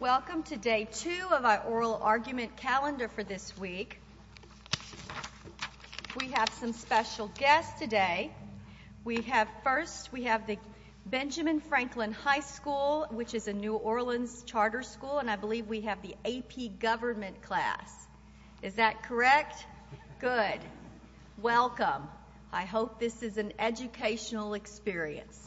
Welcome to Day 2 of our Oral Argument Calendar for this week. We have some special guests today. First, we have the Benjamin Franklin High School, which is a New Orleans charter school, and I believe we have the AP Government class. Is that correct? Good. Welcome. I hope this is an educational experience.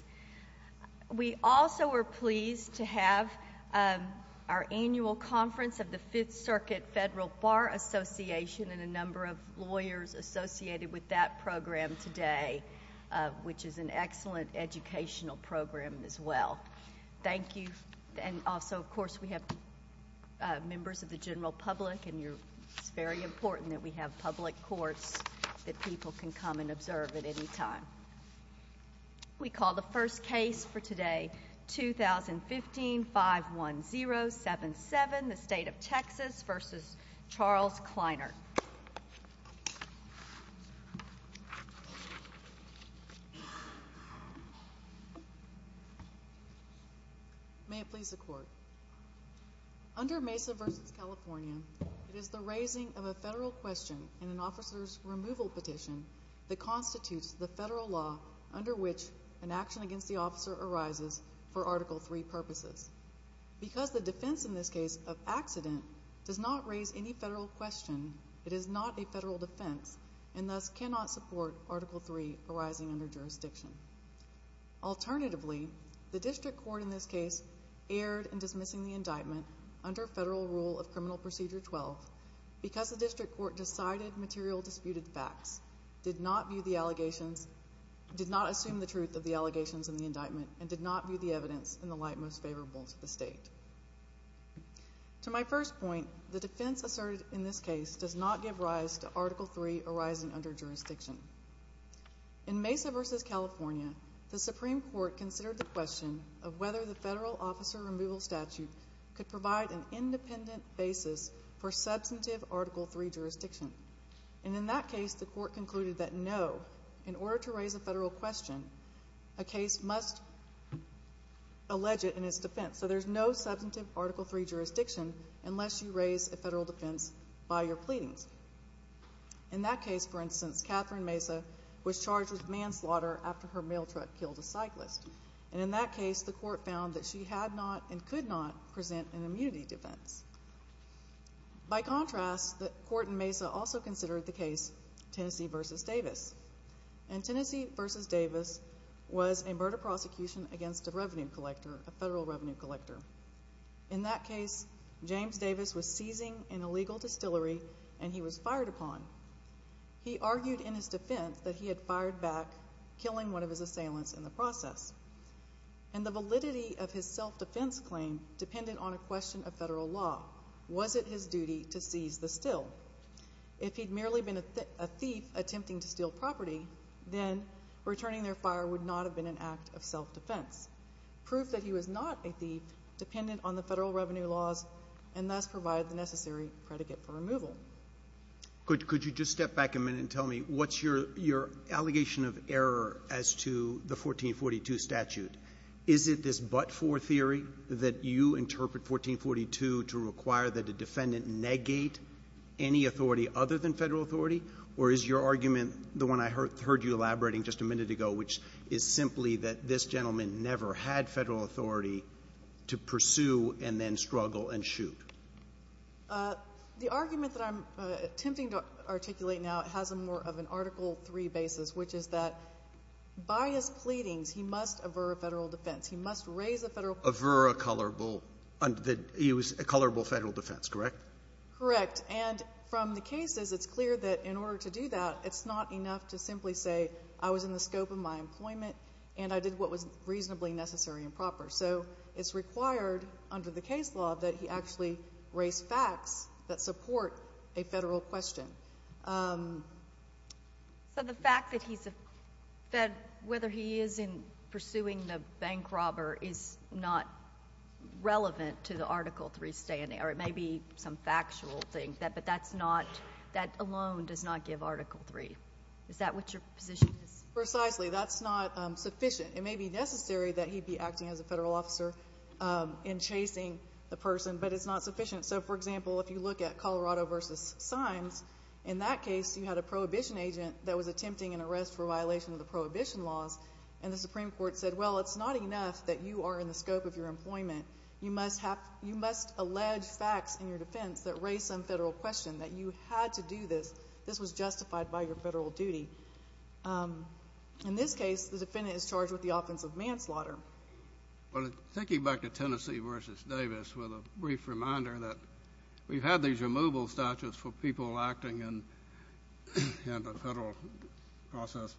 We also are pleased to have our annual conference of the Fifth Circuit Federal Bar Association and a number of lawyers associated with that program today, which is an excellent educational program as well. Thank you. And also, of course, we have members of the general public, and it's very important that we have public courts that people can come and observe at any time. We call the first case for today, 2015-51077, the State of Texas v. Charles Kleinert. May it please the Court. Under Mesa v. California, it is the raising of a federal question in an officer's removal petition that constitutes the federal law under which an action against the officer arises for Article III purposes. Because the defense in this case of accident does not raise any federal question, it is not a federal defense and thus cannot support Article III arising under jurisdiction. Alternatively, the district court in this case erred in dismissing the indictment under federal rule of Criminal Procedure 12 because the district court decided material disputed facts, did not assume the truth of the allegations in the indictment, and did not view the evidence in the light most favorable to the state. To my first point, the defense asserted in this case does not give rise to Article III arising under jurisdiction. In Mesa v. California, the Supreme Court considered the question of whether the federal officer removal statute could provide an independent basis for substantive Article III jurisdiction. And in that case, the Court concluded that no, in order to raise a federal question, a case must allege it in its defense. So there's no substantive Article III jurisdiction unless you raise a federal defense by your pleadings. In that case, for instance, Catherine Mesa was charged with manslaughter after her mail truck killed a cyclist. And in that case, the Court found that she had not and could not present an immunity defense. By contrast, the Court in Mesa also considered the case Tennessee v. Davis. And Tennessee v. Davis was a murder prosecution against a revenue collector, a federal revenue collector. In that case, James Davis was seizing an illegal distillery, and he was fired upon. He argued in his defense that he had fired back, killing one of his assailants in the process. And the validity of his self-defense claim depended on a question of federal law. Was it his duty to seize the still? If he'd merely been a thief attempting to steal property, then returning their fire would not have been an act of self-defense. Proof that he was not a thief depended on the federal revenue laws and thus provided the necessary predicate for removal. Could you just step back a minute and tell me what's your allegation of error as to the 1442 statute? Is it this but-for theory that you interpret 1442 to require that a defendant negate any authority other than federal authority? Or is your argument the one I heard you elaborating just a minute ago, which is simply that this gentleman never had federal authority to pursue and then struggle and shoot? The argument that I'm attempting to articulate now has more of an Article III basis, which is that by his pleadings, he must aver a federal defense. He must raise a federal question. Aver a colorable. He was a colorable federal defense, correct? Correct. And from the cases, it's clear that in order to do that, it's not enough to simply say, I was in the scope of my employment and I did what was reasonably necessary and proper. So it's required under the case law that he actually raise facts that support a federal question. So the fact that he's a fed, whether he is in pursuing the bank robber, is not relevant to the Article III standing, or it may be some factual thing, but that alone does not give Article III. Is that what your position is? Precisely. That's not sufficient. It may be necessary that he be acting as a federal officer in chasing the person, but it's not sufficient. So, for example, if you look at Colorado v. Symes, in that case, you had a prohibition agent that was attempting an arrest for violation of the prohibition laws, and the Supreme Court said, well, it's not enough that you are in the scope of your employment. You must allege facts in your defense that raise some federal question, that you had to do this. This was justified by your federal duty. In this case, the defendant is charged with the offense of manslaughter. Well, thinking back to Tennessee v. Davis, with a brief reminder that we've had these removal statutes for people acting in the federal process.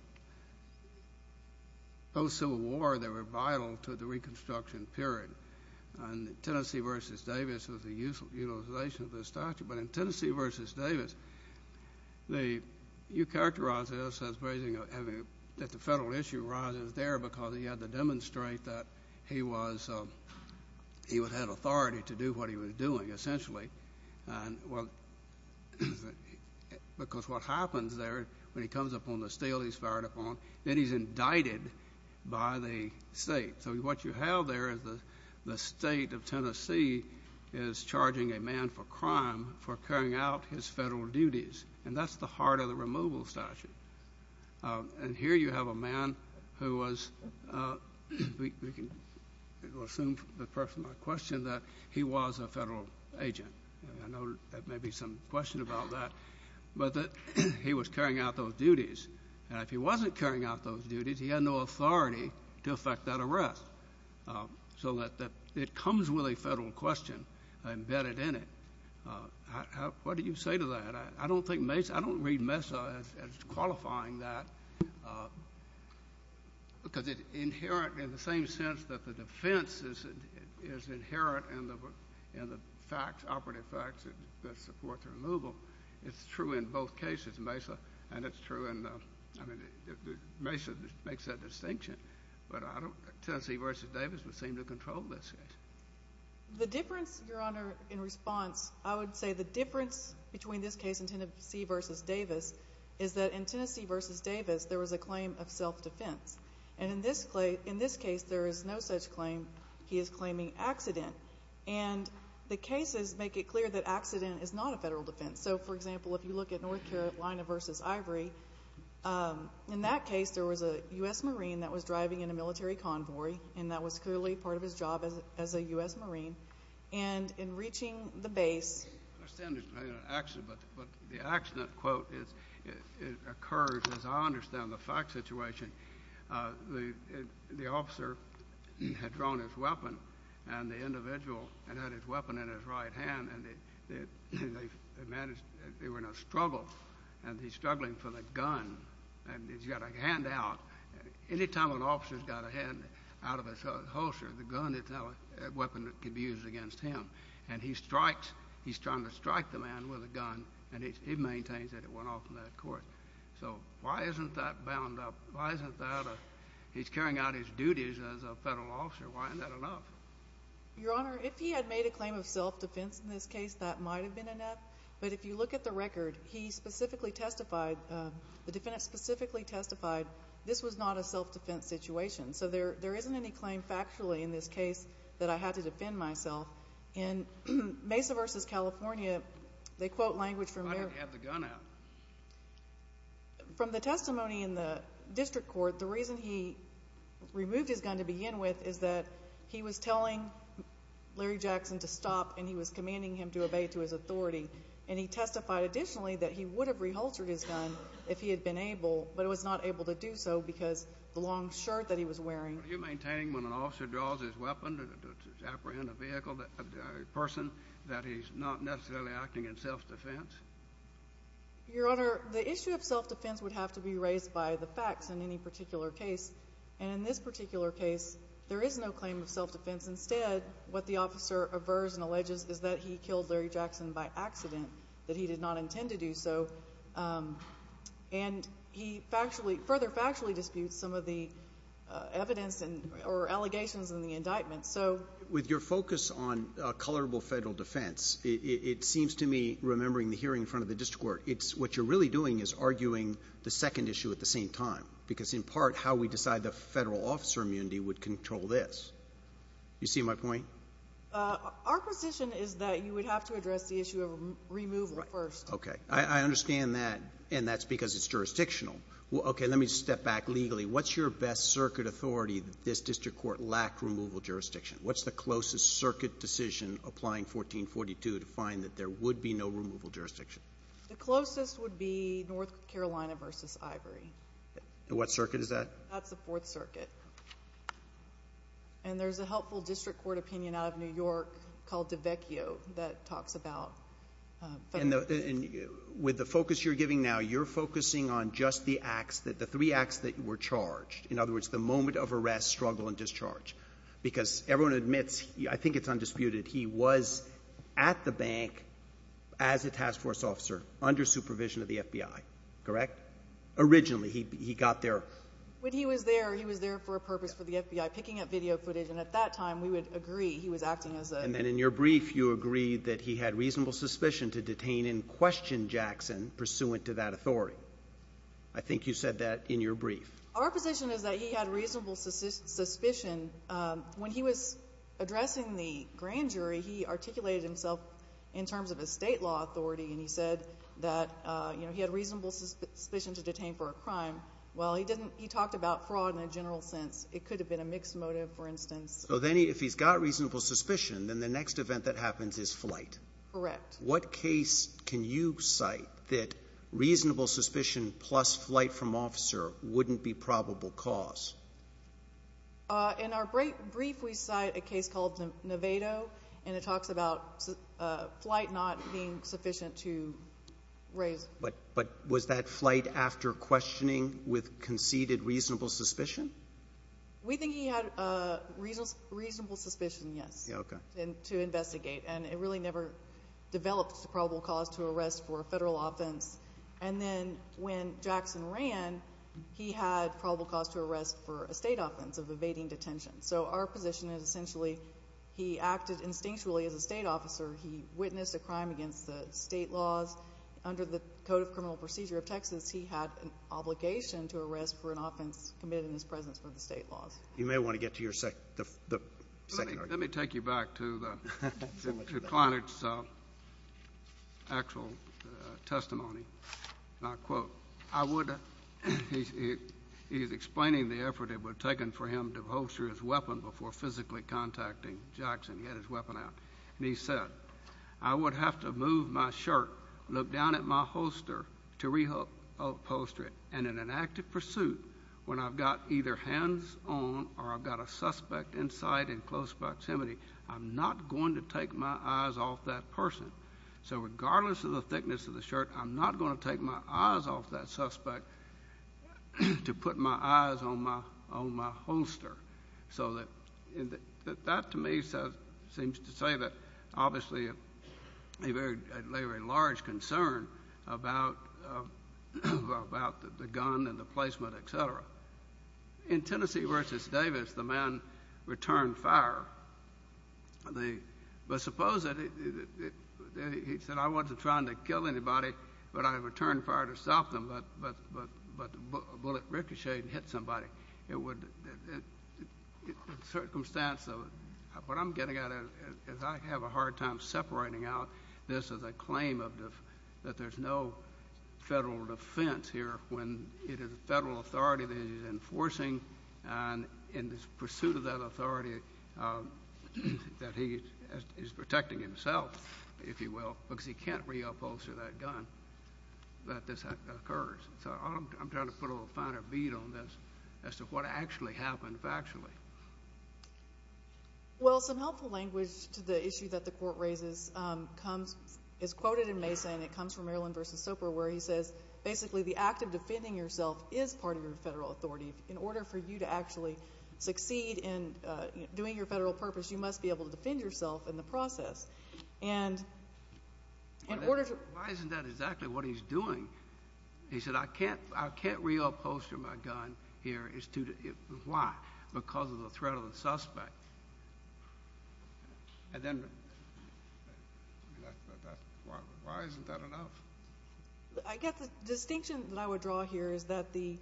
Post-Civil War, they were vital to the Reconstruction period, and Tennessee v. Davis was the utilization of this statute. But in Tennessee v. Davis, you characterize this as raising a heavy, that the federal issue arises there because he had to demonstrate that he was, he had authority to do what he was doing, essentially. Because what happens there, when he comes upon the steel he's fired upon, then he's indicted by the state. So what you have there is the state of Tennessee is charging a man for crime for carrying out his federal duties, and that's the heart of the removal statute. And here you have a man who was, we can assume from the person I questioned, that he was a federal agent. I know there may be some question about that. But he was carrying out those duties. And if he wasn't carrying out those duties, he had no authority to effect that arrest. So it comes with a federal question embedded in it. What do you say to that? I don't think Mesa, I don't read Mesa as qualifying that because it's inherent in the same sense that the defense is inherent in the facts, operative facts that support the removal. It's true in both cases, Mesa, and it's true in, I mean, Mesa makes that distinction. But I don't, Tennessee v. Davis would seem to control this case. The difference, Your Honor, in response, I would say the difference between this case and Tennessee v. Davis is that in Tennessee v. Davis, there was a claim of self-defense. And in this case, there is no such claim. He is claiming accident. And the cases make it clear that accident is not a federal defense. So, for example, if you look at North Carolina v. Ivory, in that case, there was a U.S. Marine that was driving in a military convoy, and that was clearly part of his job as a U.S. Marine. And in reaching the base. But the accident quote occurs, as I understand the fact situation. The officer had drawn his weapon, and the individual had had his weapon in his right hand, and they were in a struggle, and he's struggling for the gun, and he's got a hand out. Any time an officer's got a hand out of his holster, the gun is now a weapon that can be used against him. And he strikes. He's trying to strike the man with a gun, and he maintains that it went off in that court. So why isn't that bound up? Why isn't that? He's carrying out his duties as a federal officer. Why isn't that enough? Your Honor, if he had made a claim of self-defense in this case, that might have been enough. But if you look at the record, he specifically testified, the defendant specifically testified, this was not a self-defense situation. So there isn't any claim factually in this case that I had to defend myself. In Mesa v. California, they quote language from there. Why didn't he have the gun out? From the testimony in the district court, the reason he removed his gun to begin with is that he was telling Larry Jackson to stop, and he was commanding him to obey to his authority. And he testified additionally that he would have re-haltered his gun if he had been able, but was not able to do so because of the long shirt that he was wearing. Were you maintaining when an officer draws his weapon to apprehend a vehicle, a person, that he's not necessarily acting in self-defense? Your Honor, the issue of self-defense would have to be raised by the facts in any particular case. And in this particular case, there is no claim of self-defense. Instead, what the officer avers and alleges is that he killed Larry Jackson by accident, that he did not intend to do so. And he further factually disputes some of the evidence or allegations in the indictment. With your focus on colorable federal defense, it seems to me, remembering the hearing in front of the district court, what you're really doing is arguing the second issue at the same time, because in part how we decide the federal officer immunity would control this. You see my point? Our position is that you would have to address the issue of removal first. Okay. I understand that, and that's because it's jurisdictional. Okay. Let me step back legally. What's your best circuit authority that this district court lacked removal jurisdiction? What's the closest circuit decision applying 1442 to find that there would be no removal jurisdiction? The closest would be North Carolina v. Ivory. What circuit is that? That's the Fourth Circuit. And there's a helpful district court opinion out of New York called Devecchio that talks about federal defense. With the focus you're giving now, you're focusing on just the acts, the three acts that were charged. In other words, the moment of arrest, struggle, and discharge, because everyone admits, I think it's undisputed, that he was at the bank as a task force officer under supervision of the FBI, correct? Originally he got there. When he was there, he was there for a purpose for the FBI, picking up video footage, and at that time we would agree he was acting as a ---- And then in your brief you agreed that he had reasonable suspicion to detain and question Jackson pursuant to that authority. I think you said that in your brief. Our position is that he had reasonable suspicion. When he was addressing the grand jury, he articulated himself in terms of a state law authority, and he said that he had reasonable suspicion to detain for a crime. Well, he talked about fraud in a general sense. It could have been a mixed motive, for instance. So then if he's got reasonable suspicion, then the next event that happens is flight. Correct. What case can you cite that reasonable suspicion plus flight from officer wouldn't be probable cause? In our brief we cite a case called Novato, and it talks about flight not being sufficient to raise. But was that flight after questioning with conceded reasonable suspicion? We think he had reasonable suspicion, yes, to investigate, and it really never developed to probable cause to arrest for a federal offense. And then when Jackson ran, he had probable cause to arrest for a state offense of evading detention. So our position is essentially he acted instinctually as a state officer. He witnessed a crime against the state laws. Under the Code of Criminal Procedure of Texas, he had an obligation to arrest for an offense committed in his presence for the state laws. You may want to get to your second argument. Let me take you back to the client's actual testimony. And I quote, he's explaining the effort that was taken for him to holster his weapon before physically contacting Jackson. He had his weapon out. And he said, I would have to move my shirt, look down at my holster to re-upholster it, and in an active pursuit, when I've got either hands on or I've got a suspect in sight in close proximity, I'm not going to take my eyes off that person. So regardless of the thickness of the shirt, I'm not going to take my eyes off that suspect to put my eyes on my holster. So that, to me, seems to say that obviously a very large concern about the gun and the placement, et cetera. In Tennessee v. Davis, the man returned fire. But suppose that he said, I wasn't trying to kill anybody, but I returned fire to stop them, but a bullet ricocheted and hit somebody. It would, in circumstance of what I'm getting at, as I have a hard time separating out this as a claim that there's no federal defense here, when it is a federal authority that he's enforcing, and in his pursuit of that authority that he is protecting himself, if you will, because he can't reupholster that gun, that this occurs. So I'm trying to put a finer bead on this as to what actually happened factually. Well, some helpful language to the issue that the Court raises is quoted in Mesa, and it comes from Maryland v. Soper where he says, basically, the act of defending yourself is part of your federal authority. In order for you to actually succeed in doing your federal purpose, you must be able to defend yourself in the process. Why isn't that exactly what he's doing? He said, I can't reupholster my gun here because of the threat of the suspect. Why isn't that enough? I guess the distinction that I would draw here is that the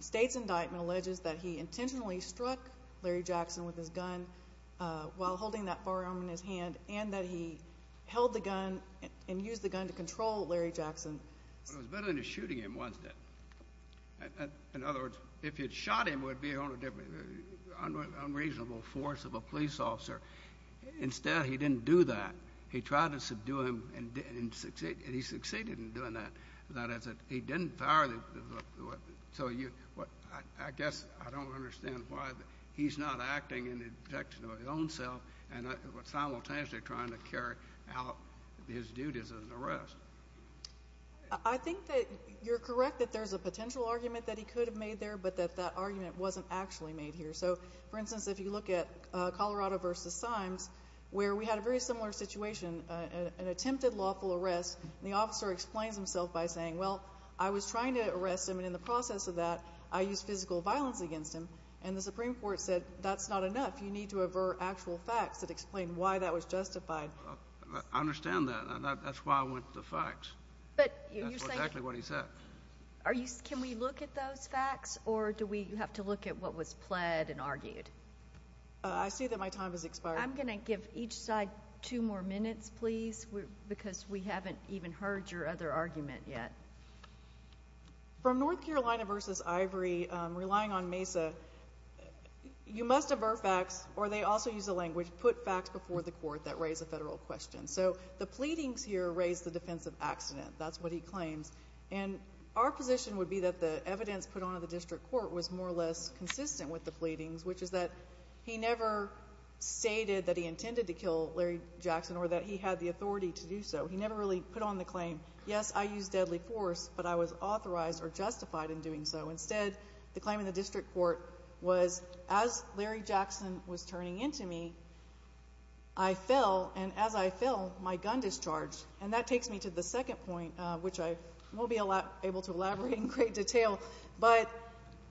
State's indictment alleges that he intentionally struck Larry Jackson with his gun while holding that firearm in his hand and that he held the gun and used the gun to control Larry Jackson. It was better than shooting him, wasn't it? In other words, if you had shot him, it would be an unreasonable force of a police officer. Instead, he didn't do that. He tried to subdue him, and he succeeded in doing that. He didn't fire the weapon. So I guess I don't understand why he's not acting in the protection of his own self and simultaneously trying to carry out his duties as an arrest. I think that you're correct that there's a potential argument that he could have made there but that that argument wasn't actually made here. So, for instance, if you look at Colorado v. Symes, where we had a very similar situation, an attempted lawful arrest, and the officer explains himself by saying, well, I was trying to arrest him, and in the process of that, I used physical violence against him. And the Supreme Court said, that's not enough. You need to avert actual facts that explain why that was justified. I understand that. That's why I went to the facts. That's exactly what he said. Can we look at those facts, or do we have to look at what was pled and argued? I see that my time has expired. I'm going to give each side two more minutes, please, because we haven't even heard your other argument yet. From North Carolina v. Ivory, relying on MESA, you must avert facts, or they also use the language, put facts before the court that raise a federal question. So the pleadings here raise the defense of accident. That's what he claims. And our position would be that the evidence put on in the district court was more or less consistent with the pleadings, which is that he never stated that he intended to kill Larry Jackson or that he had the authority to do so. He never really put on the claim, yes, I used deadly force, but I was authorized or justified in doing so. Instead, the claim in the district court was, as Larry Jackson was turning into me, I fell, and as I fell, my gun discharged. And that takes me to the second point, which I won't be able to elaborate in great detail, but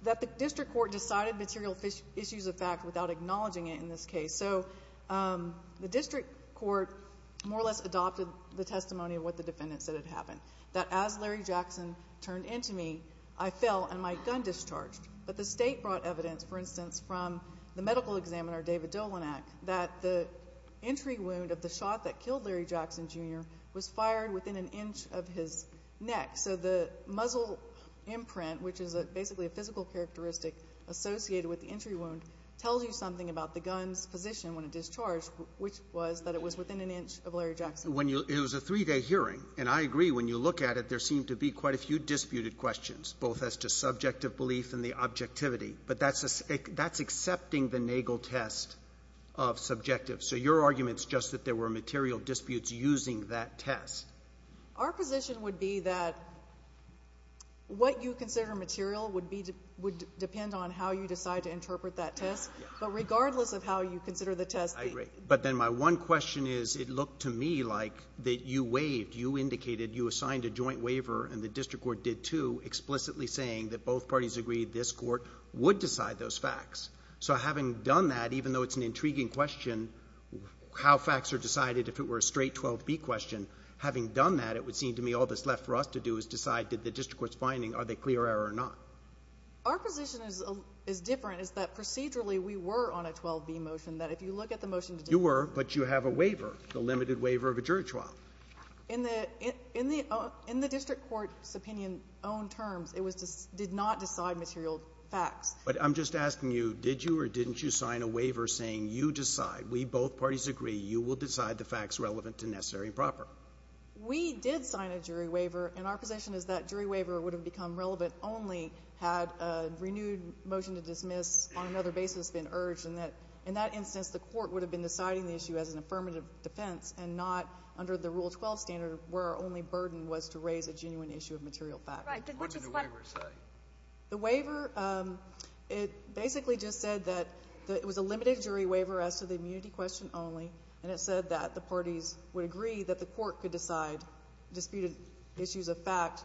that the district court decided material issues of fact without acknowledging it in this case. So the district court more or less adopted the testimony of what the defendant said had happened, that as Larry Jackson turned into me, I fell and my gun discharged. But the State brought evidence, for instance, from the medical examiner, David Dolanak, that the entry wound of the shot that killed Larry Jackson Jr. was fired within an inch of his neck. So the muzzle imprint, which is basically a physical characteristic associated with the entry wound, tells you something about the gun's position when it discharged, which was that it was within an inch of Larry Jackson. It was a three-day hearing, and I agree, when you look at it, there seemed to be quite a few disputed questions, both as to subjective belief and the objectivity, but that's accepting the Nagel test of subjective. So your argument is just that there were material disputes using that test. Our position would be that what you consider material would depend on how you decide to interpret that test, but regardless of how you consider the test. I agree, but then my one question is it looked to me like that you waived, you indicated, you assigned a joint waiver, and the district court did too, explicitly saying that both parties agreed this court would decide those facts. So having done that, even though it's an intriguing question, how facts are decided, if it were a straight 12b question, having done that, it would seem to me all that's left for us to do is decide did the district court's finding, are they clear error or not? Our position is different, is that procedurally we were on a 12b motion, that if you look at the motion to do that. You were, but you have a waiver, the limited waiver of a jury trial. In the district court's opinion on terms, it did not decide material facts. But I'm just asking you, did you or didn't you sign a waiver saying you decide, we both parties agree, you will decide the facts relevant to necessary and proper? We did sign a jury waiver, and our position is that jury waiver would have become relevant only had a renewed motion to dismiss on another basis been urged, and that in that instance, the court would have been deciding the issue as an affirmative defense and not under the Rule 12 standard where our only burden was to raise a genuine issue of material facts. Right. What did the waiver say? The waiver, it basically just said that it was a limited jury waiver as to the community question only, and it said that the parties would agree that the court could decide disputed issues of fact,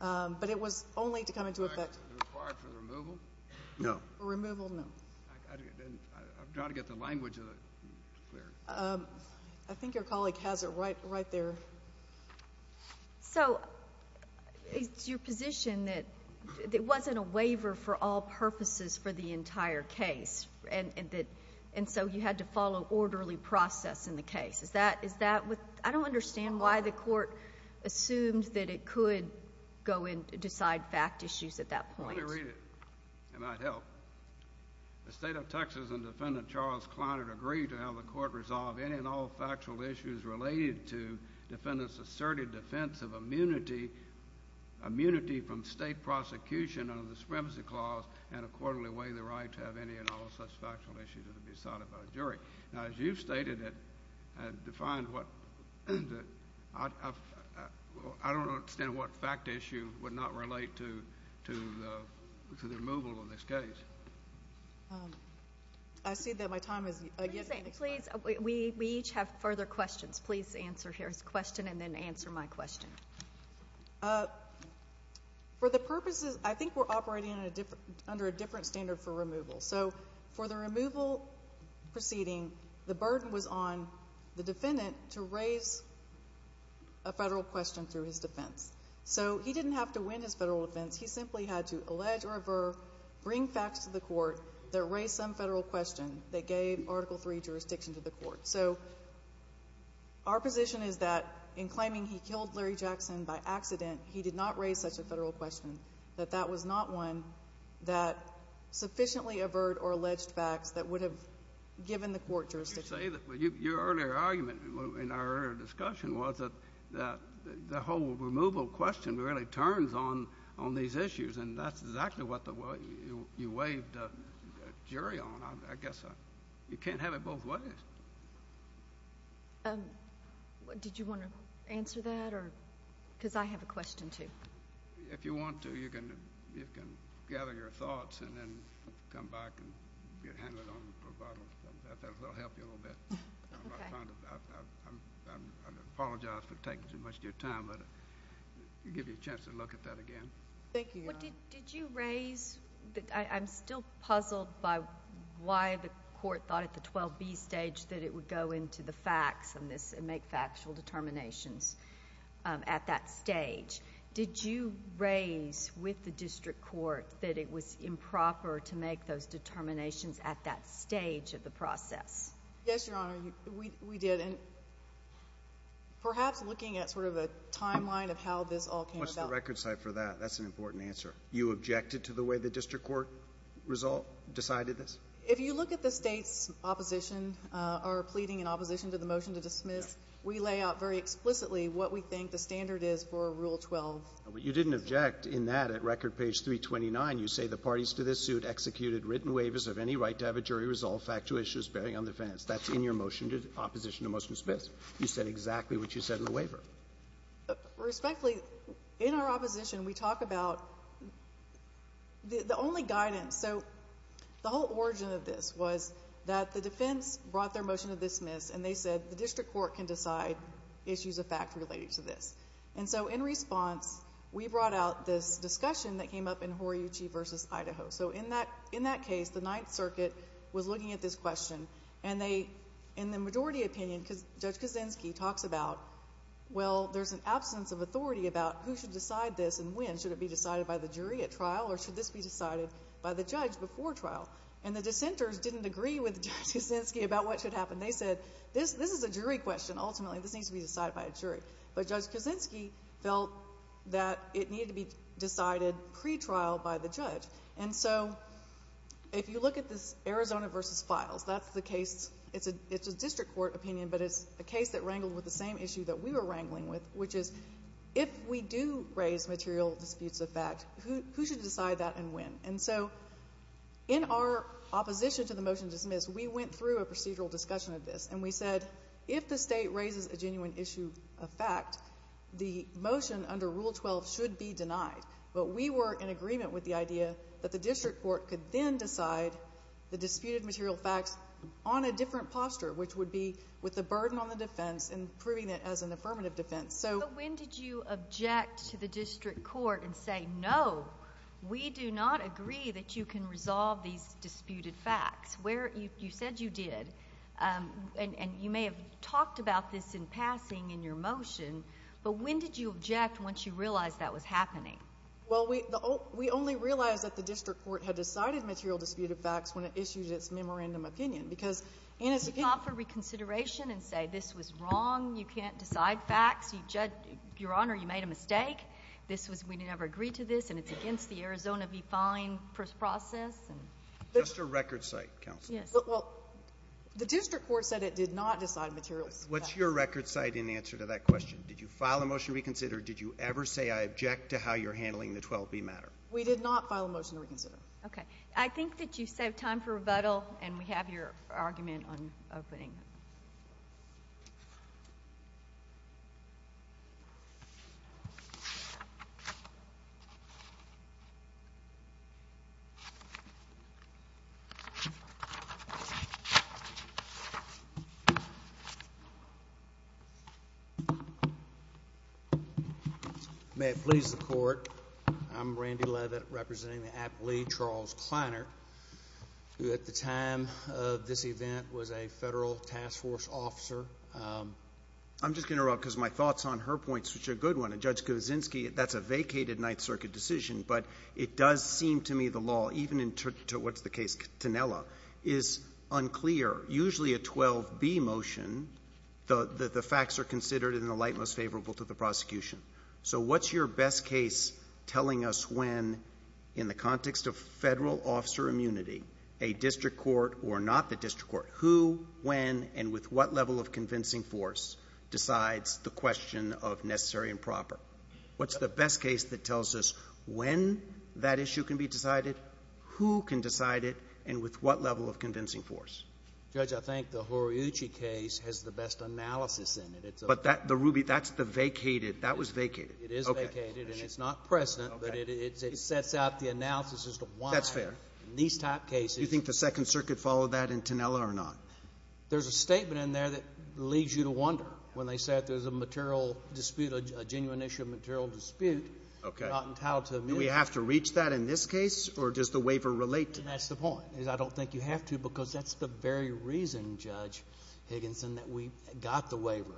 but it was only to come into effect. Was it required for removal? No. For removal, no. I'm trying to get the language of it clear. I think your colleague has it right there. So it's your position that it wasn't a waiver for all purposes for the entire case, and so you had to follow orderly process in the case. I don't understand why the court assumed that it could go in to decide fact issues at that point. Let me read it. It might help. The State of Texas and Defendant Charles Kleinert agreed to have the court resolve any and all factual issues related to defendant's asserted defense of immunity from state prosecution under the Supremacy Clause and accordingly waive the right to have any and all such factual issues to be decided by a jury. Now, as you've stated and defined, I don't understand what fact issue would not relate to the removal of this case. I see that my time is up. Please, we each have further questions. Charles, please answer here his question and then answer my question. For the purposes, I think we're operating under a different standard for removal. So for the removal proceeding, the burden was on the defendant to raise a federal question through his defense. So he didn't have to win his federal defense. He simply had to allege or aver, bring facts to the court that raised some federal question that gave Article III jurisdiction to the court. So our position is that in claiming he killed Larry Jackson by accident, he did not raise such a federal question, that that was not one that sufficiently averred or alleged facts that would have given the court jurisdiction. You say that. Your earlier argument in our earlier discussion was that the whole removal question really turns on these issues, and that's exactly what you waived a jury on. I guess you can't have it both ways. Did you want to answer that? Because I have a question, too. If you want to, you can gather your thoughts and then come back and get handed on to the pro bono. That will help you a little bit. I apologize for taking too much of your time, but I'll give you a chance to look at that again. Thank you, Your Honor. Did you raise, I'm still puzzled by why the court thought at the 12B stage that it would go into the facts and make factual determinations at that stage. Did you raise with the district court that it was improper to make those determinations at that stage of the process? Yes, Your Honor, we did. And perhaps looking at sort of a timeline of how this all came about. I don't have a record cite for that. That's an important answer. You objected to the way the district court result decided this? If you look at the State's opposition or pleading in opposition to the motion to dismiss, we lay out very explicitly what we think the standard is for Rule 12. But you didn't object in that at record page 329. You say the parties to this suit executed written waivers of any right to have a jury resolve factual issues bearing on defense. That's in your motion to opposition to motion to dismiss. You said exactly what you said in the waiver. Respectfully, in our opposition, we talk about the only guidance. So the whole origin of this was that the defense brought their motion to dismiss, and they said the district court can decide issues of fact related to this. And so in response, we brought out this discussion that came up in Horiyuchi v. Idaho. So in that case, the Ninth Circuit was looking at this question, and they, in the majority opinion, Judge Kaczynski talks about, well, there's an absence of authority about who should decide this and when. Should it be decided by the jury at trial, or should this be decided by the judge before trial? And the dissenters didn't agree with Judge Kaczynski about what should happen. They said, this is a jury question, ultimately. This needs to be decided by a jury. But Judge Kaczynski felt that it needed to be decided pretrial by the judge. And so if you look at this Arizona v. Files, that's the case. It's a district court opinion, but it's a case that wrangled with the same issue that we were wrangling with, which is, if we do raise material disputes of fact, who should decide that and when? And so in our opposition to the motion to dismiss, we went through a procedural discussion of this, and we said, if the State raises a genuine issue of fact, the motion under Rule 12 should be denied. But we were in agreement with the idea that the district court could then decide the different posture, which would be with the burden on the defense and proving it as an affirmative defense. But when did you object to the district court and say, no, we do not agree that you can resolve these disputed facts? You said you did, and you may have talked about this in passing in your motion, but when did you object once you realized that was happening? Well, we only realized that the district court had decided material disputed facts when it did not file a motion to reconsider. And it's a case of, you know, you can't decide facts. You judge, Your Honor, you made a mistake. This was, we never agreed to this, and it's against the Arizona v. Fine process. Just a record cite, counsel. Yes. Well, the district court said it did not decide materials. What's your record cite in answer to that question? Did you file a motion to reconsider? Did you ever say, I object to how you're handling the 12b matter? We did not file a motion to reconsider. Okay. I think that you save time for rebuttal, and we have your argument on opening. May it please the Court. I'm Randy Leavitt, representing the athlete Charles Kleiner, who at the time of this event was a federal task force officer. I'm just going to interrupt because my thoughts on her point, which is a good one, and Judge Kuczynski, that's a vacated Ninth Circuit decision, but it does seem to me the law, even in what's the case, Tinella, is unclear. Usually a 12b motion, the facts are considered in the light most favorable to the prosecution. So what's your best case telling us when, in the context of federal officer immunity, a district court or not the district court, who, when, and with what level of convincing force decides the question of necessary and proper? What's the best case that tells us when that issue can be decided, who can decide it, and with what level of convincing force? Judge, I think the Horiuchi case has the best analysis in it. But that, the Ruby, that's the vacated. That was vacated. It is vacated, and it's not present, but it sets out the analysis as to why. That's fair. In these type cases. Do you think the Second Circuit followed that in Tinella or not? There's a statement in there that leads you to wonder when they say that there's a material dispute, a genuine issue of material dispute. Okay. Not entitled to immunity. Do we have to reach that in this case, or does the waiver relate to that? That's the point, is I don't think you have to because that's the very reason, Judge Higginson, that we got the waiver.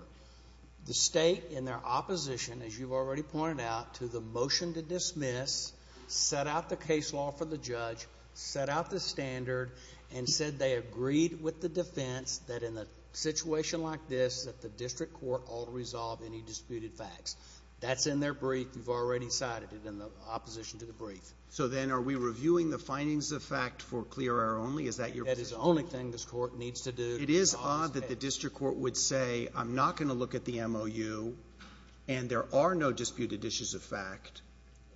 The state, in their opposition, as you've already pointed out, to the motion to dismiss, set out the case law for the judge, set out the standard, and said they agreed with the defense that in a situation like this that the district court ought to resolve any disputed facts. That's in their brief. You've already cited it in the opposition to the brief. So then are we reviewing the findings of fact for clear air only? Is that your position? It is odd that the district court would say I'm not going to look at the MOU and there are no disputed issues of fact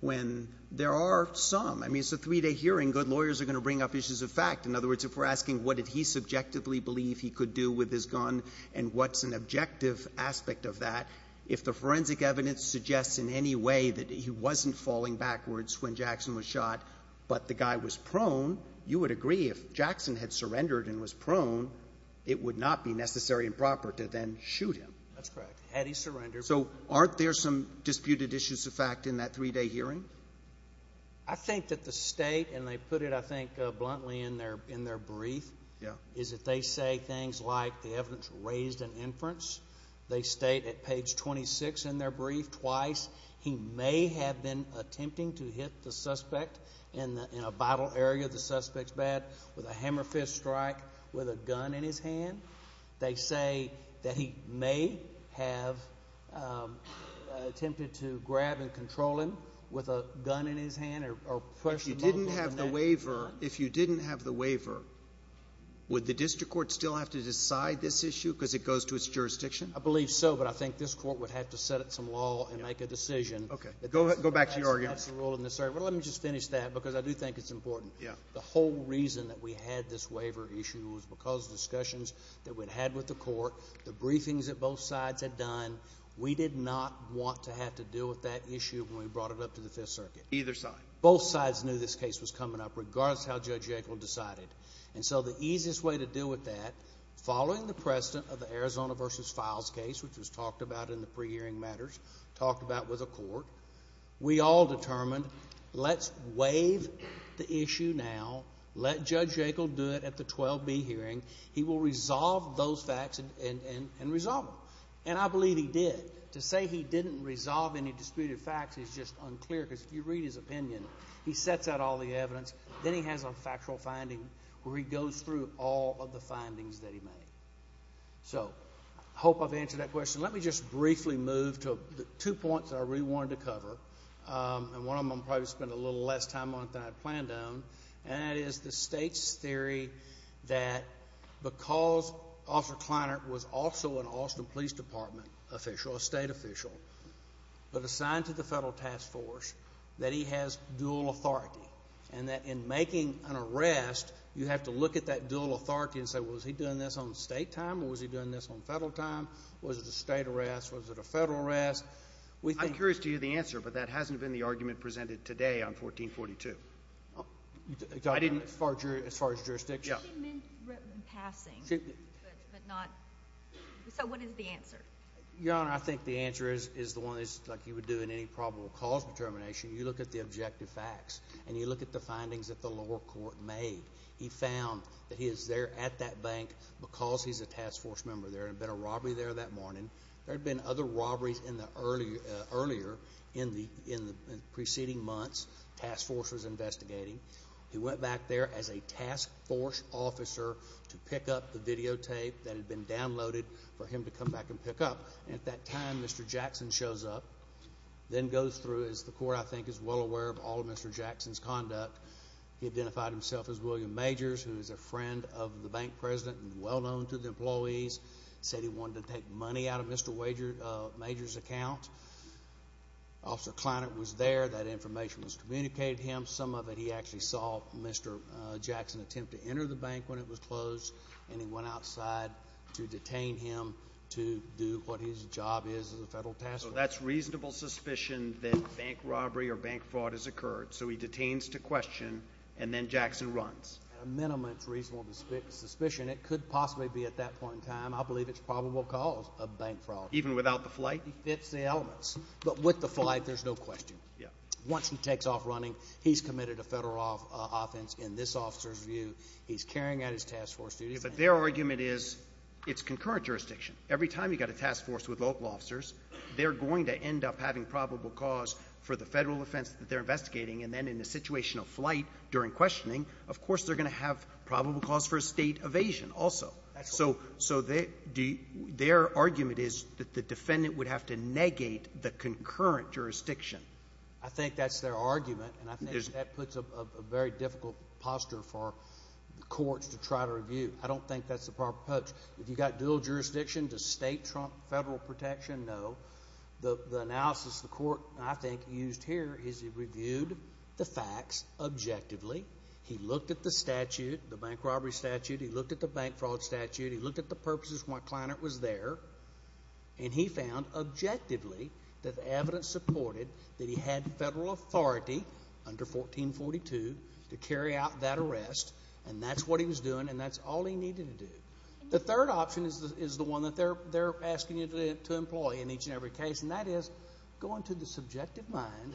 when there are some. I mean, it's a three-day hearing. Good lawyers are going to bring up issues of fact. In other words, if we're asking what did he subjectively believe he could do with his gun and what's an objective aspect of that, if the forensic evidence suggests in any way that he wasn't falling backwards when Jackson was shot, but the guy was surrendered and was prone, it would not be necessary and proper to then shoot him. That's correct. Had he surrendered. So aren't there some disputed issues of fact in that three-day hearing? I think that the state, and they put it, I think, bluntly in their brief, is that they say things like the evidence raised in inference. They state at page 26 in their brief twice he may have been attempting to hit the suspect in a battle area of the suspect's bed with a hammer fist strike with a gun in his hand. They say that he may have attempted to grab and control him with a gun in his hand. If you didn't have the waiver, would the district court still have to decide this issue because it goes to its jurisdiction? I believe so, but I think this court would have to set up some law and make a decision. Go back to your argument. Well, let me just finish that because I do think it's important. The whole reason that we had this waiver issue was because of discussions that we'd had with the court, the briefings that both sides had done. We did not want to have to deal with that issue when we brought it up to the Fifth Circuit. Either side. Both sides knew this case was coming up, regardless of how Judge Yankel decided. And so the easiest way to deal with that, following the precedent of the Arizona v. Files case, which was talked about in the pre-hearing matters, talked about with the court, we all determined let's waive the issue now. Let Judge Yankel do it at the 12B hearing. He will resolve those facts and resolve them. And I believe he did. To say he didn't resolve any disputed facts is just unclear because if you read his opinion, he sets out all the evidence. Then he has a factual finding where he goes through all of the findings that he made. So I hope I've answered that question. Let me just briefly move to the two points that I really wanted to cover, and one of them I'm probably going to spend a little less time on than I planned on, and that is the state's theory that because Officer Kleinert was also an Austin Police Department official, a state official, but assigned to the Federal Task Force, that he has dual authority and that in making an arrest, you have to look at that dual authority and say, well, was he doing this on state time or was he doing this on federal time? Was it a state arrest? Was it a federal arrest? I'm curious to hear the answer, but that hasn't been the argument presented today on 1442. As far as jurisdiction? She meant passing, but not so what is the answer? Your Honor, I think the answer is the one like you would do in any probable cause determination. You look at the objective facts and you look at the findings that the lower court made. He found that he is there at that bank because he's a task force member there. There had been a robbery there that morning. There had been other robberies earlier in the preceding months the task force was investigating. He went back there as a task force officer to pick up the videotape that had been downloaded for him to come back and pick up. At that time, Mr. Jackson shows up, then goes through, as the court, I think, is well aware of all of Mr. Jackson's conduct. He identified himself as William Majors, who is a friend of the bank president and well-known to the employees. He said he wanted to take money out of Mr. Majors' account. Officer Kleinert was there. That information was communicated to him. Some of it he actually saw Mr. Jackson attempt to enter the bank when it was closed, and he went outside to detain him to do what his job is as a federal task force. So that's reasonable suspicion that bank robbery or bank fraud has occurred. So he detains to question, and then Jackson runs. At a minimum, it's reasonable suspicion. It could possibly be at that point in time. I believe it's probable cause of bank fraud. Even without the flight? He fits the elements. But with the flight, there's no question. Once he takes off running, he's committed a federal offense in this officer's view. He's carrying out his task force duties. But their argument is it's concurrent jurisdiction. Every time you've got a task force with local officers, they're going to end up having probable cause for the federal offense that they're investigating. And then in the situation of flight during questioning, of course they're going to have probable cause for a state evasion also. So their argument is that the defendant would have to negate the concurrent jurisdiction. I think that's their argument. And I think that puts a very difficult posture for the courts to try to review. I don't think that's the proper approach. If you've got dual jurisdiction, does state trump federal protection? No. The analysis the court, I think, used here is it reviewed the facts objectively. He looked at the statute, the bank robbery statute. He looked at the bank fraud statute. He looked at the purposes why Kleinert was there. And he found objectively that the evidence supported that he had federal authority under 1442 to carry out that arrest. And that's what he was doing, and that's all he needed to do. The third option is the one that they're asking you to employ in each and every case, and that is go into the subjective mind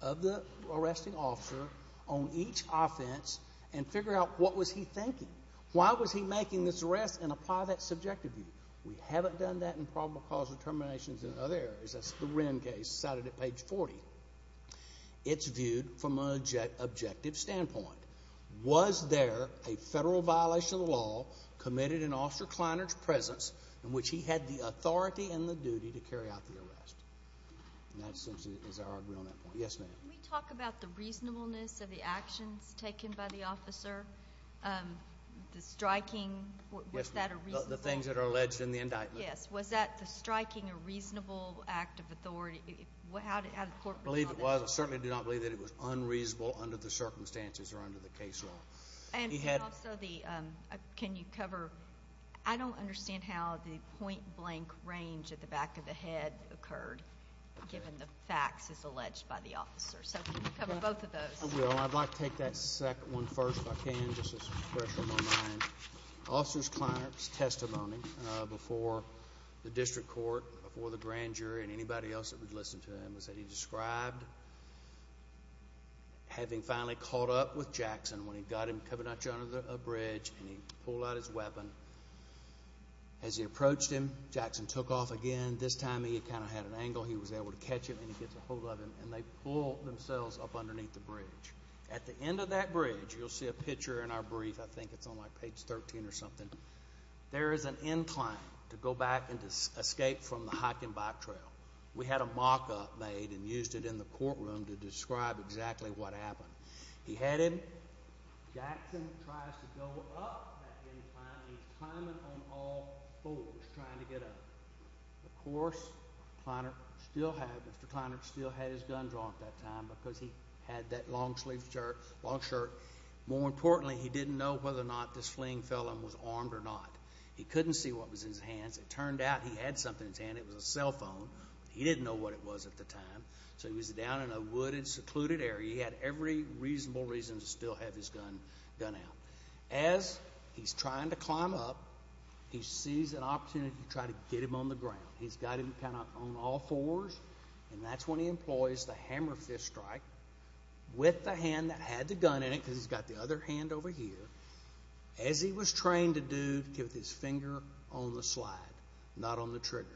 of the arresting officer on each offense and figure out what was he thinking. Why was he making this arrest and apply that subjective view? We haven't done that in probable cause determinations in other areas. That's the Wren case cited at page 40. It's viewed from an objective standpoint. Was there a federal violation of the law committed in Officer Kleinert's presence in which he had the authority and the duty to carry out the arrest? And that essentially is our argument on that point. Yes, ma'am. Can we talk about the reasonableness of the actions taken by the officer, the striking? The things that are alleged in the indictment. Yes. Was that the striking a reasonable act of authority? I believe it was. I certainly do not believe that it was unreasonable under the circumstances or under the case law. And also, can you cover, I don't understand how the point-blank range at the back of the head occurred, given the facts as alleged by the officer. So can you cover both of those? I will. Well, I'd like to take that second one first, if I can, just to freshen my mind. Officer Kleinert's testimony before the district court, before the grand jury, and anybody else that would listen to him was that he described having finally caught up with Jackson when he got him coming at you under a bridge and he pulled out his weapon. As he approached him, Jackson took off again. This time he kind of had an angle. He was able to catch him, and he gets a hold of him, and they pull themselves up underneath the bridge. At the end of that bridge, you'll see a picture in our brief. I think it's on, like, page 13 or something. There is an incline to go back and escape from the hiking bike trail. We had a mock-up made and used it in the courtroom to describe exactly what happened. He had him. Jackson tries to go up that incline, and he's climbing on all fours trying to get up. Of course, Kleinert still had his gun drawn at that time because he had that long-sleeved shirt, long shirt. More importantly, he didn't know whether or not this fleeing felon was armed or not. He couldn't see what was in his hands. It turned out he had something in his hand. It was a cell phone. He didn't know what it was at the time, so he was down in a wooded, secluded area. He had every reasonable reason to still have his gun out. As he's trying to climb up, he sees an opportunity to try to get him on the ground. He's got him kind of on all fours, and that's when he employs the hammer fist strike with the hand that had the gun in it because he's got the other hand over here, as he was trained to do, with his finger on the slide, not on the trigger.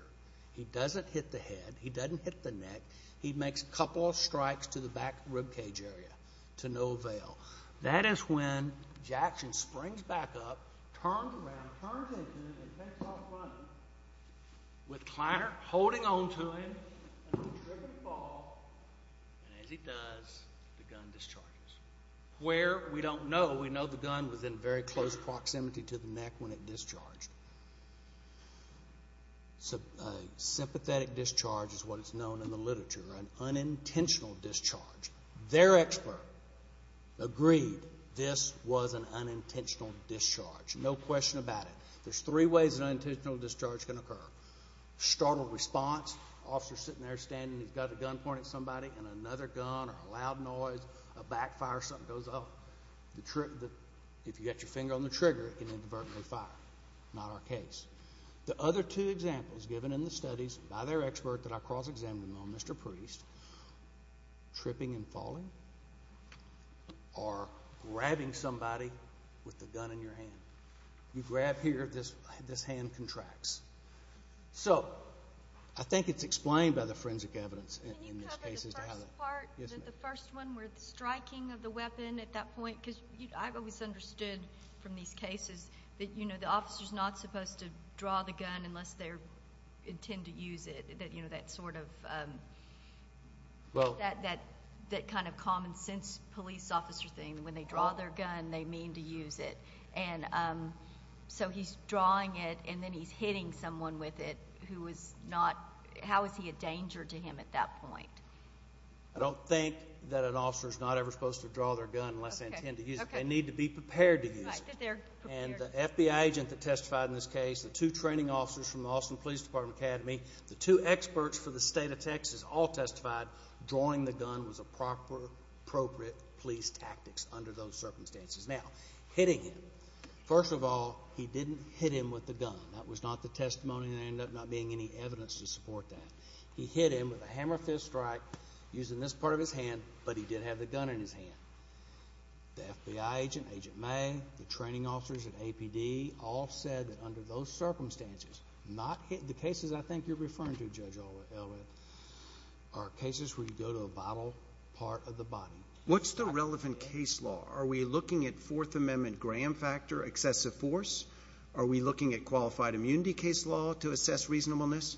He doesn't hit the head. He doesn't hit the neck. He makes a couple of strikes to the back ribcage area to no avail. That is when Jackson springs back up, turns around, turns into him and takes off running, with Kleiner holding on to him and the trigger to fall, and as he does, the gun discharges. Where? We don't know. We know the gun was in very close proximity to the neck when it discharged. Sympathetic discharge is what is known in the literature, an unintentional discharge. Their expert agreed this was an unintentional discharge, no question about it. There's three ways an unintentional discharge can occur. Startled response, officer sitting there standing, he's got a gun pointed at somebody, and another gun or a loud noise, a backfire, something goes off. If you get your finger on the trigger, it can inadvertently fire. Not our case. The other two examples given in the studies by their expert that I cross-examined on, Mr. Priest, tripping and falling or grabbing somebody with the gun in your hand. You grab here, this hand contracts. So I think it's explained by the forensic evidence in these cases. Can you cover the first part, the first one where the striking of the weapon at that point? Because I've always understood from these cases that, you know, the officer's not supposed to draw the gun unless they intend to use it. You know, that sort of, that kind of common sense police officer thing. When they draw their gun, they mean to use it. And so he's drawing it, and then he's hitting someone with it who is not, how is he a danger to him at that point? I don't think that an officer is not ever supposed to draw their gun unless they intend to use it. They need to be prepared to use it. And the FBI agent that testified in this case, the two training officers from the Austin Police Department Academy, the two experts for the state of Texas all testified drawing the gun was a proper, appropriate police tactics under those circumstances. Now, hitting him. First of all, he didn't hit him with the gun. That was not the testimony, and there ended up not being any evidence to support that. He hit him with a hammer fist strike using this part of his hand, but he did have the gun in his hand. The FBI agent, Agent May, the training officers at APD all said that under those circumstances, not hitting, the cases I think you're referring to, Judge Elwood, are cases where you go to a vital part of the body. What's the relevant case law? Are we looking at Fourth Amendment gram factor excessive force? Are we looking at qualified immunity case law to assess reasonableness?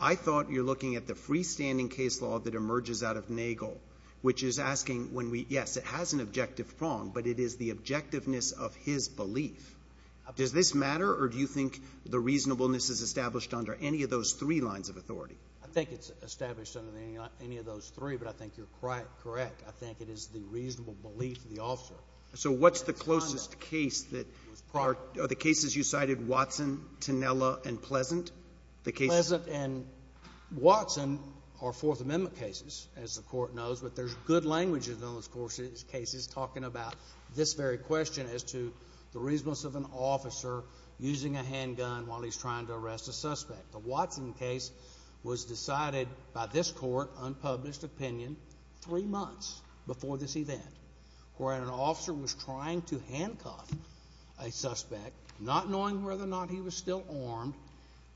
I thought you're looking at the freestanding case law that emerges out of Nagel, which is asking when we, yes, it has an objective prong, but it is the objectiveness of his belief. Does this matter, or do you think the reasonableness is established under any of those three lines of authority? I think it's established under any of those three, but I think you're correct. I think it is the reasonable belief of the officer. So what's the closest case that are the cases you cited, Watson, Tinella, and Pleasant? Pleasant and Watson are Fourth Amendment cases, as the court knows, but there's good language in those cases talking about this very question as to the reasonableness of an officer using a handgun while he's trying to arrest a suspect. The Watson case was decided by this court, unpublished opinion, three months before this event, where an officer was trying to handcuff a suspect, not knowing whether or not he was still armed,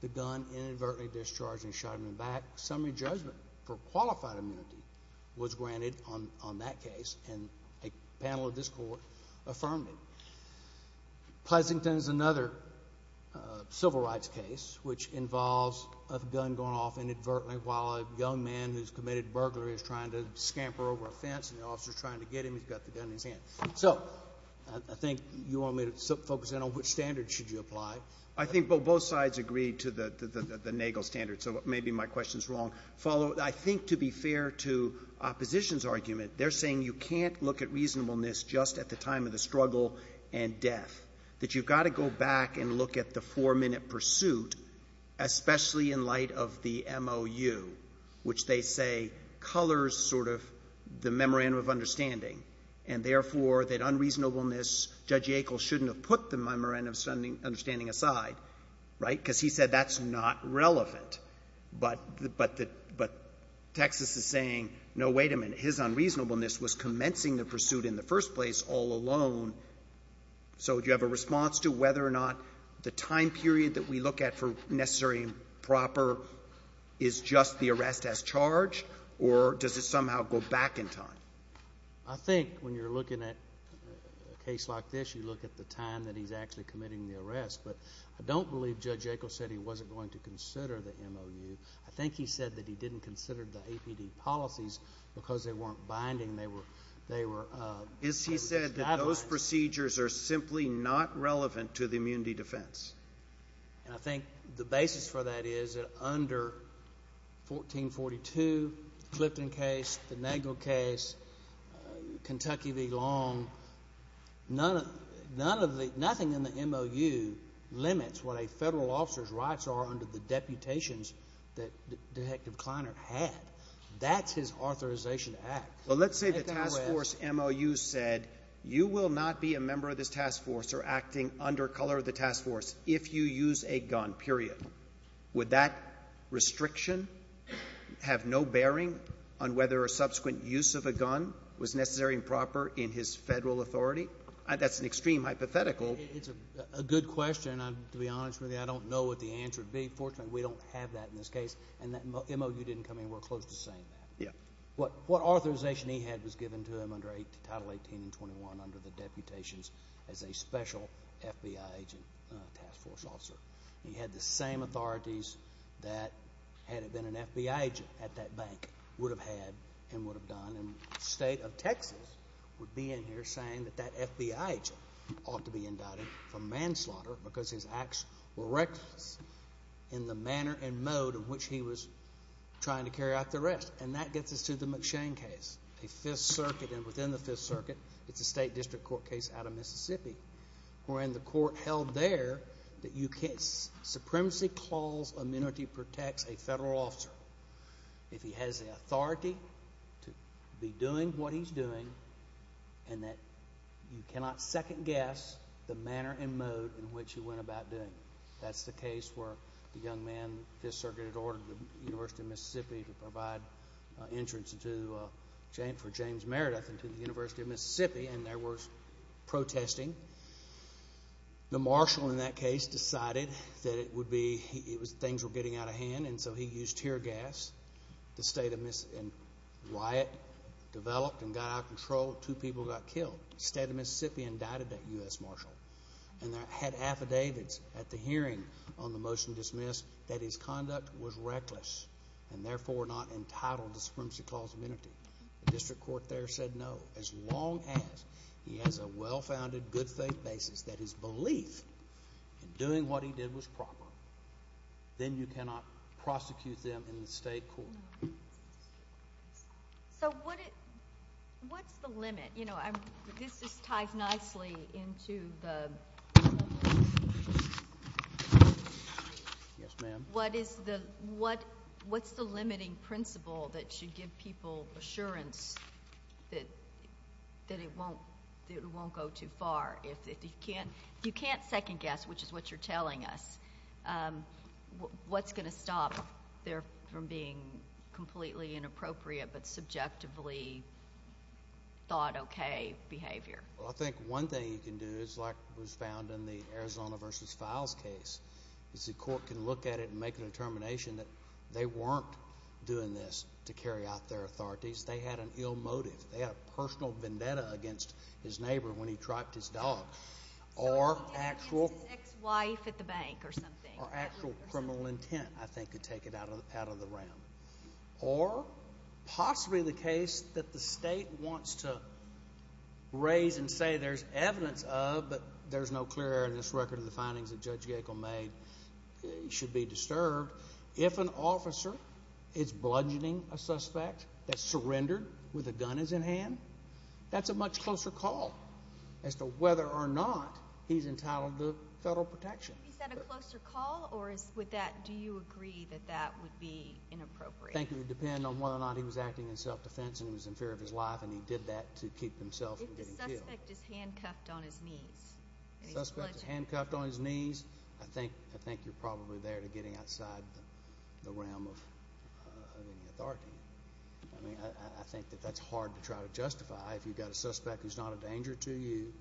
the gun inadvertently discharged and shot him in the back. Summary judgment for qualified immunity was granted on that case, and a panel of this court affirmed it. Pleasant is another civil rights case which involves a gun going off inadvertently while a young man who's committed burglary is trying to scamper over a fence, and the officer is trying to get him, he's got the gun in his hand. So I think you want me to focus in on which standards should you apply. Well, I think both sides agreed to the Nagel standard, so maybe my question's wrong. Follow, I think to be fair to opposition's argument, they're saying you can't look at reasonableness just at the time of the struggle and death, that you've got to go back and look at the four-minute pursuit, especially in light of the MOU, which they say colors sort of the memorandum of understanding, and therefore that unreasonableness, Judge Yackel shouldn't have put the memorandum of understanding aside, right, because he said that's not relevant. But Texas is saying, no, wait a minute, his unreasonableness was commencing the pursuit in the first place all alone. So do you have a response to whether or not the time period that we look at for necessary and proper is just the arrest as charged, or does it somehow go back in time? I think when you're looking at a case like this, you look at the time that he's actually committing the arrest. But I don't believe Judge Yackel said he wasn't going to consider the MOU. I think he said that he didn't consider the APD policies because they weren't binding. They were guidelines. Is he said that those procedures are simply not relevant to the immunity defense? And I think the basis for that is that under 1442, the Clifton case, the Nagel case, Kentucky v. Long, nothing in the MOU limits what a federal officer's rights are under the deputations that Detective Kleiner had. That's his authorization to act. Well, let's say the task force MOU said you will not be a member of this task force or acting under color of the task force if you use a gun, period. Would that restriction have no bearing on whether a subsequent use of a gun was necessary and proper in his federal authority? That's an extreme hypothetical. It's a good question. To be honest with you, I don't know what the answer would be. Fortunately, we don't have that in this case, and the MOU didn't come anywhere close to saying that. What authorization he had was given to him under Title 18 and 21 under the deputations as a special FBI agent task force officer. He had the same authorities that, had it been an FBI agent at that bank, would have had and would have done. And the state of Texas would be in here saying that that FBI agent ought to be indicted for manslaughter because his acts were reckless in the manner and mode in which he was trying to carry out the arrest. And that gets us to the McShane case. A Fifth Circuit, and within the Fifth Circuit, it's a state district court case out of Mississippi, wherein the court held there that you can't supremacy clause amenity protects a federal officer if he has the authority to be doing what he's doing and that you cannot second guess the manner and mode in which he went about doing it. That's the case where the young man, Fifth Circuit, had ordered the University of Mississippi to provide insurance for James Meredith and to the University of Mississippi, and there was protesting. The marshal in that case decided that it would be, things were getting out of hand, and so he used tear gas. The state of, and riot developed and got out of control. Two people got killed. The state of Mississippi indicted that U.S. marshal. And they had affidavits at the hearing on the motion dismissed that his conduct was reckless and therefore not entitled to supremacy clause amenity. The district court there said no. As long as he has a well-founded good faith basis that his belief in doing what he did was proper, then you cannot prosecute them in the state court. So what's the limit? You know, this ties nicely into the, what is the limiting principle that should give people assurance that it won't go too far? If you can't second guess, which is what you're telling us, what's going to stop there from being completely inappropriate but subjectively thought okay behavior? Well, I think one thing you can do is like was found in the Arizona versus Files case, is the court can look at it and make a determination that they weren't doing this to carry out their authorities. They had an ill motive. They had a personal vendetta against his neighbor when he trapped his dog. Or actual criminal intent, I think, could take it out of the round. Or possibly the case that the state wants to raise and say there's evidence of but there's no clear evidence record of the findings that Judge Yackel made should be disturbed. If an officer is bludgeoning a suspect that surrendered with a gun in his hand, that's a much closer call as to whether or not he's entitled to federal protection. Is that a closer call, or with that, do you agree that that would be inappropriate? I think it would depend on whether or not he was acting in self-defense and he was in fear of his life and he did that to keep himself from getting killed. If the suspect is handcuffed on his knees. If the suspect is handcuffed on his knees, I think you're probably there to getting outside the realm of authority. I think that that's hard to try to justify. If you've got a suspect who's not a danger to you,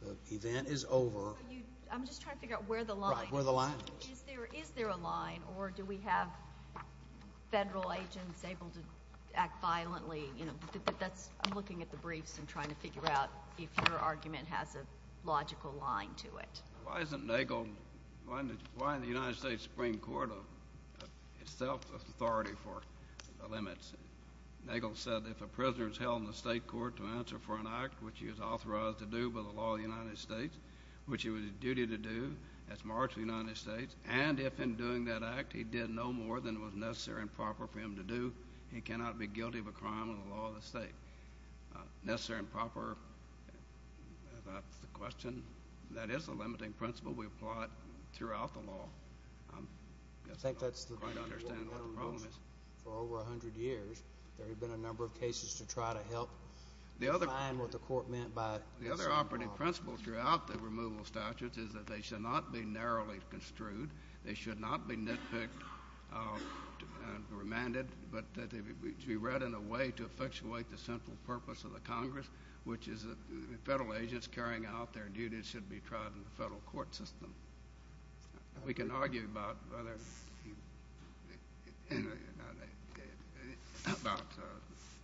the event is over. I'm just trying to figure out where the line is. Right, where the line is. Is there a line, or do we have federal agents able to act violently? I'm looking at the briefs and trying to figure out if your argument has a logical line to it. Why isn't Nagel, why isn't the United States Supreme Court itself authority for the limits? Nagel said if a prisoner is held in the state court to answer for an act which he was authorized to do by the law of the United States, which he was duty to do as Marshal of the United States, and if in doing that act he did no more than was necessary and proper for him to do, he cannot be guilty of a crime under the law of the state. Necessary and proper, that's the question. That is a limiting principle. We apply it throughout the law. I guess I don't quite understand what the problem is. For over 100 years, there have been a number of cases to try to help define what the court meant by necessary and proper. The other operating principle throughout the removal statutes is that they should not be narrowly construed. They should not be nitpicked or remanded, but they should be read in a way to effectuate the central purpose of the Congress, which is that the federal agents carrying out their duties should be tried in the federal court system. We can argue about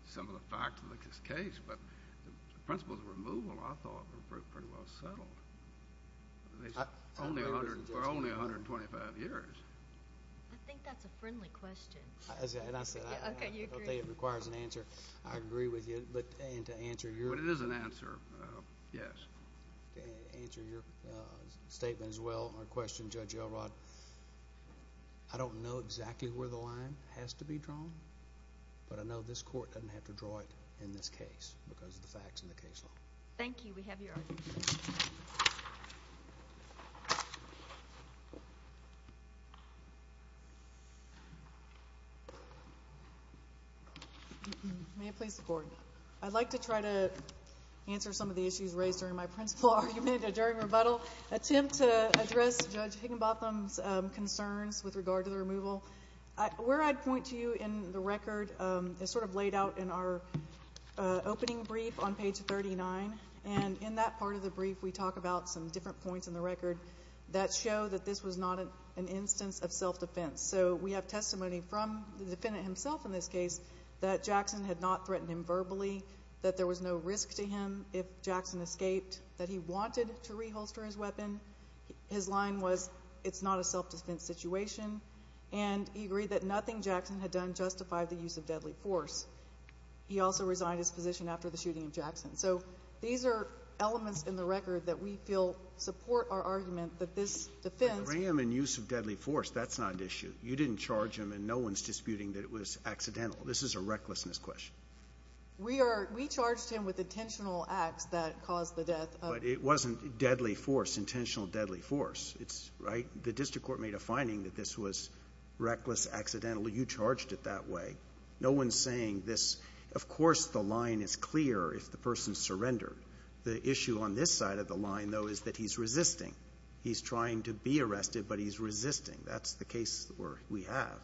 some of the facts of this case, but the principles of removal, I thought, were pretty well settled. For only 125 years. I think that's a friendly question. And I said I don't think it requires an answer. I agree with you, but to answer your question. But it is an answer, yes. To answer your statement as well, my question, Judge Elrod, I don't know exactly where the line has to be drawn, but I know this court doesn't have to draw it in this case because of the facts in the case law. Thank you. We have your argument. May it please the Court. I'd like to try to answer some of the issues raised during my principle argument during rebuttal, attempt to address Judge Higginbotham's concerns with regard to the removal. Where I'd point to you in the record is sort of laid out in our opening brief on page 39. And in that part of the brief, we talk about some different points in the record that show that this was not an instance of self-defense. So we have testimony from the defendant himself in this case that Jackson had not threatened him verbally, that there was no risk to him if Jackson escaped, that he wanted to reholster his weapon. His line was, it's not a self-defense situation. And he agreed that nothing Jackson had done justified the use of deadly force. He also resigned his position after the shooting of Jackson. So these are elements in the record that we feel support our argument that this defense. But the ram and use of deadly force, that's not an issue. You didn't charge him, and no one's disputing that it was accidental. This is a recklessness question. We charged him with intentional acts that caused the death. But it wasn't deadly force, intentional deadly force, right? The district court made a finding that this was reckless, accidental. You charged it that way. No one's saying this. Of course the line is clear if the person surrendered. The issue on this side of the line, though, is that he's resisting. He's trying to be arrested, but he's resisting. That's the case we have.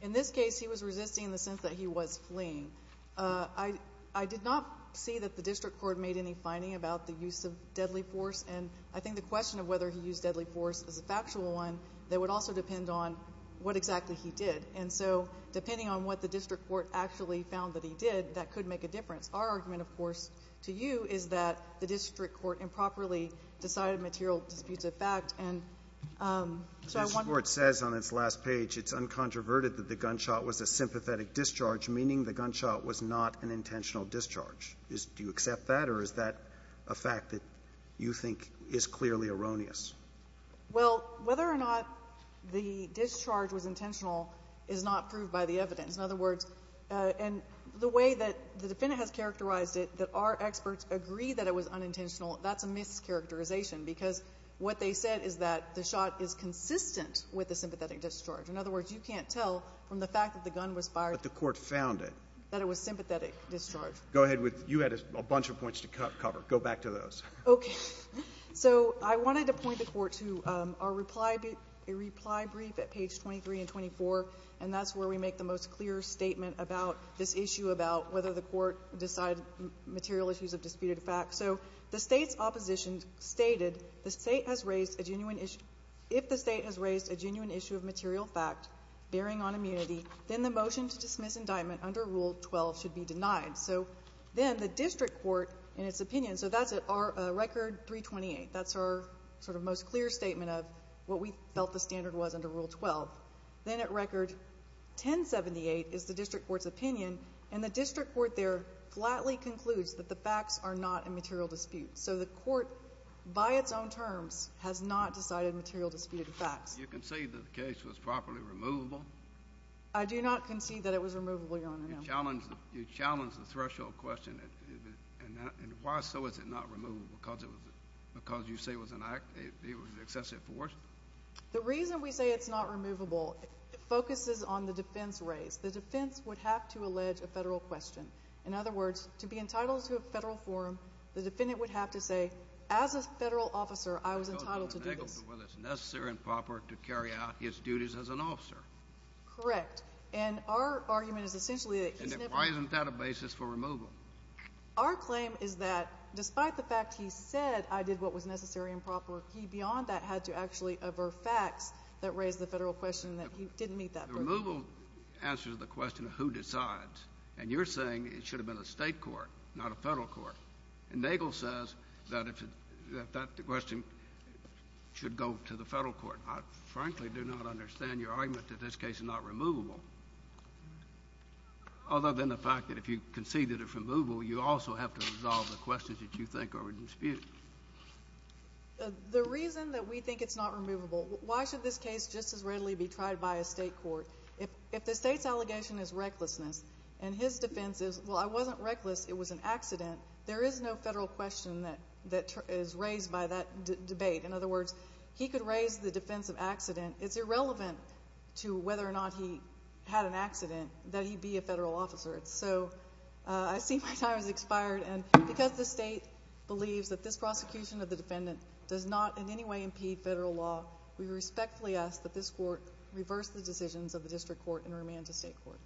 In this case, he was resisting in the sense that he was fleeing. I did not see that the district court made any finding about the use of deadly force. And I think the question of whether he used deadly force is a factual one that would also depend on what exactly he did. And so depending on what the district court actually found that he did, that could make a difference. Our argument, of course, to you is that the district court improperly decided material disputes of fact. The district court says on its last page it's uncontroverted that the gunshot was a sympathetic discharge, meaning the gunshot was not an intentional discharge. Do you accept that, or is that a fact that you think is clearly erroneous? Well, whether or not the discharge was intentional is not proved by the evidence. In other words, and the way that the defendant has characterized it, that our experts agree that it was unintentional, that's a mischaracterization because what they said is that the shot is consistent with a sympathetic discharge. In other words, you can't tell from the fact that the gun was fired. But the court found it. That it was sympathetic discharge. Go ahead with you had a bunch of points to cover. Go back to those. Okay. So I wanted to point the Court to our reply brief at page 23 and 24, and that's where we make the most clear statement about this issue about whether the court decided material issues of disputed fact. So the State's opposition stated the State has raised a genuine issue. If the State has raised a genuine issue of material fact bearing on immunity, then the motion to dismiss indictment under Rule 12 should be denied. So then the district court, in its opinion, so that's at record 328. That's our sort of most clear statement of what we felt the standard was under Rule 12. Then at record 1078 is the district court's opinion, and the district court there flatly concludes that the facts are not a material dispute. So the court, by its own terms, has not decided material disputed facts. Do you concede that the case was properly removable? I do not concede that it was removable, Your Honor. You challenged the threshold question, and why so is it not removable? Because you say it was an excessive force? The reason we say it's not removable focuses on the defense raised. The defense would have to allege a federal question. In other words, to be entitled to a federal forum, the defendant would have to say, as a federal officer, I was entitled to do this. Whether it's necessary and proper to carry out his duties as an officer. Correct. And our argument is essentially that he's never— Then why isn't that a basis for removal? Our claim is that despite the fact he said I did what was necessary and proper, he beyond that had to actually aver facts that raised the federal question that he didn't meet that purpose. The removal answers the question of who decides, and you're saying it should have been a state court, not a federal court. And Nagel says that that question should go to the federal court. I frankly do not understand your argument that this case is not removable, other than the fact that if you concede that it's removable, you also have to resolve the questions that you think are in dispute. The reason that we think it's not removable, why should this case just as readily be tried by a state court? If the state's allegation is recklessness and his defense is, well, I wasn't reckless, it was an accident, there is no federal question that is raised by that debate. In other words, he could raise the defense of accident. It's irrelevant to whether or not he had an accident that he be a federal officer. So I see my time has expired. And because the state believes that this prosecution of the defendant does not in any way impede federal law, we respectfully ask that this court reverse the decisions of the district court and remand to state court.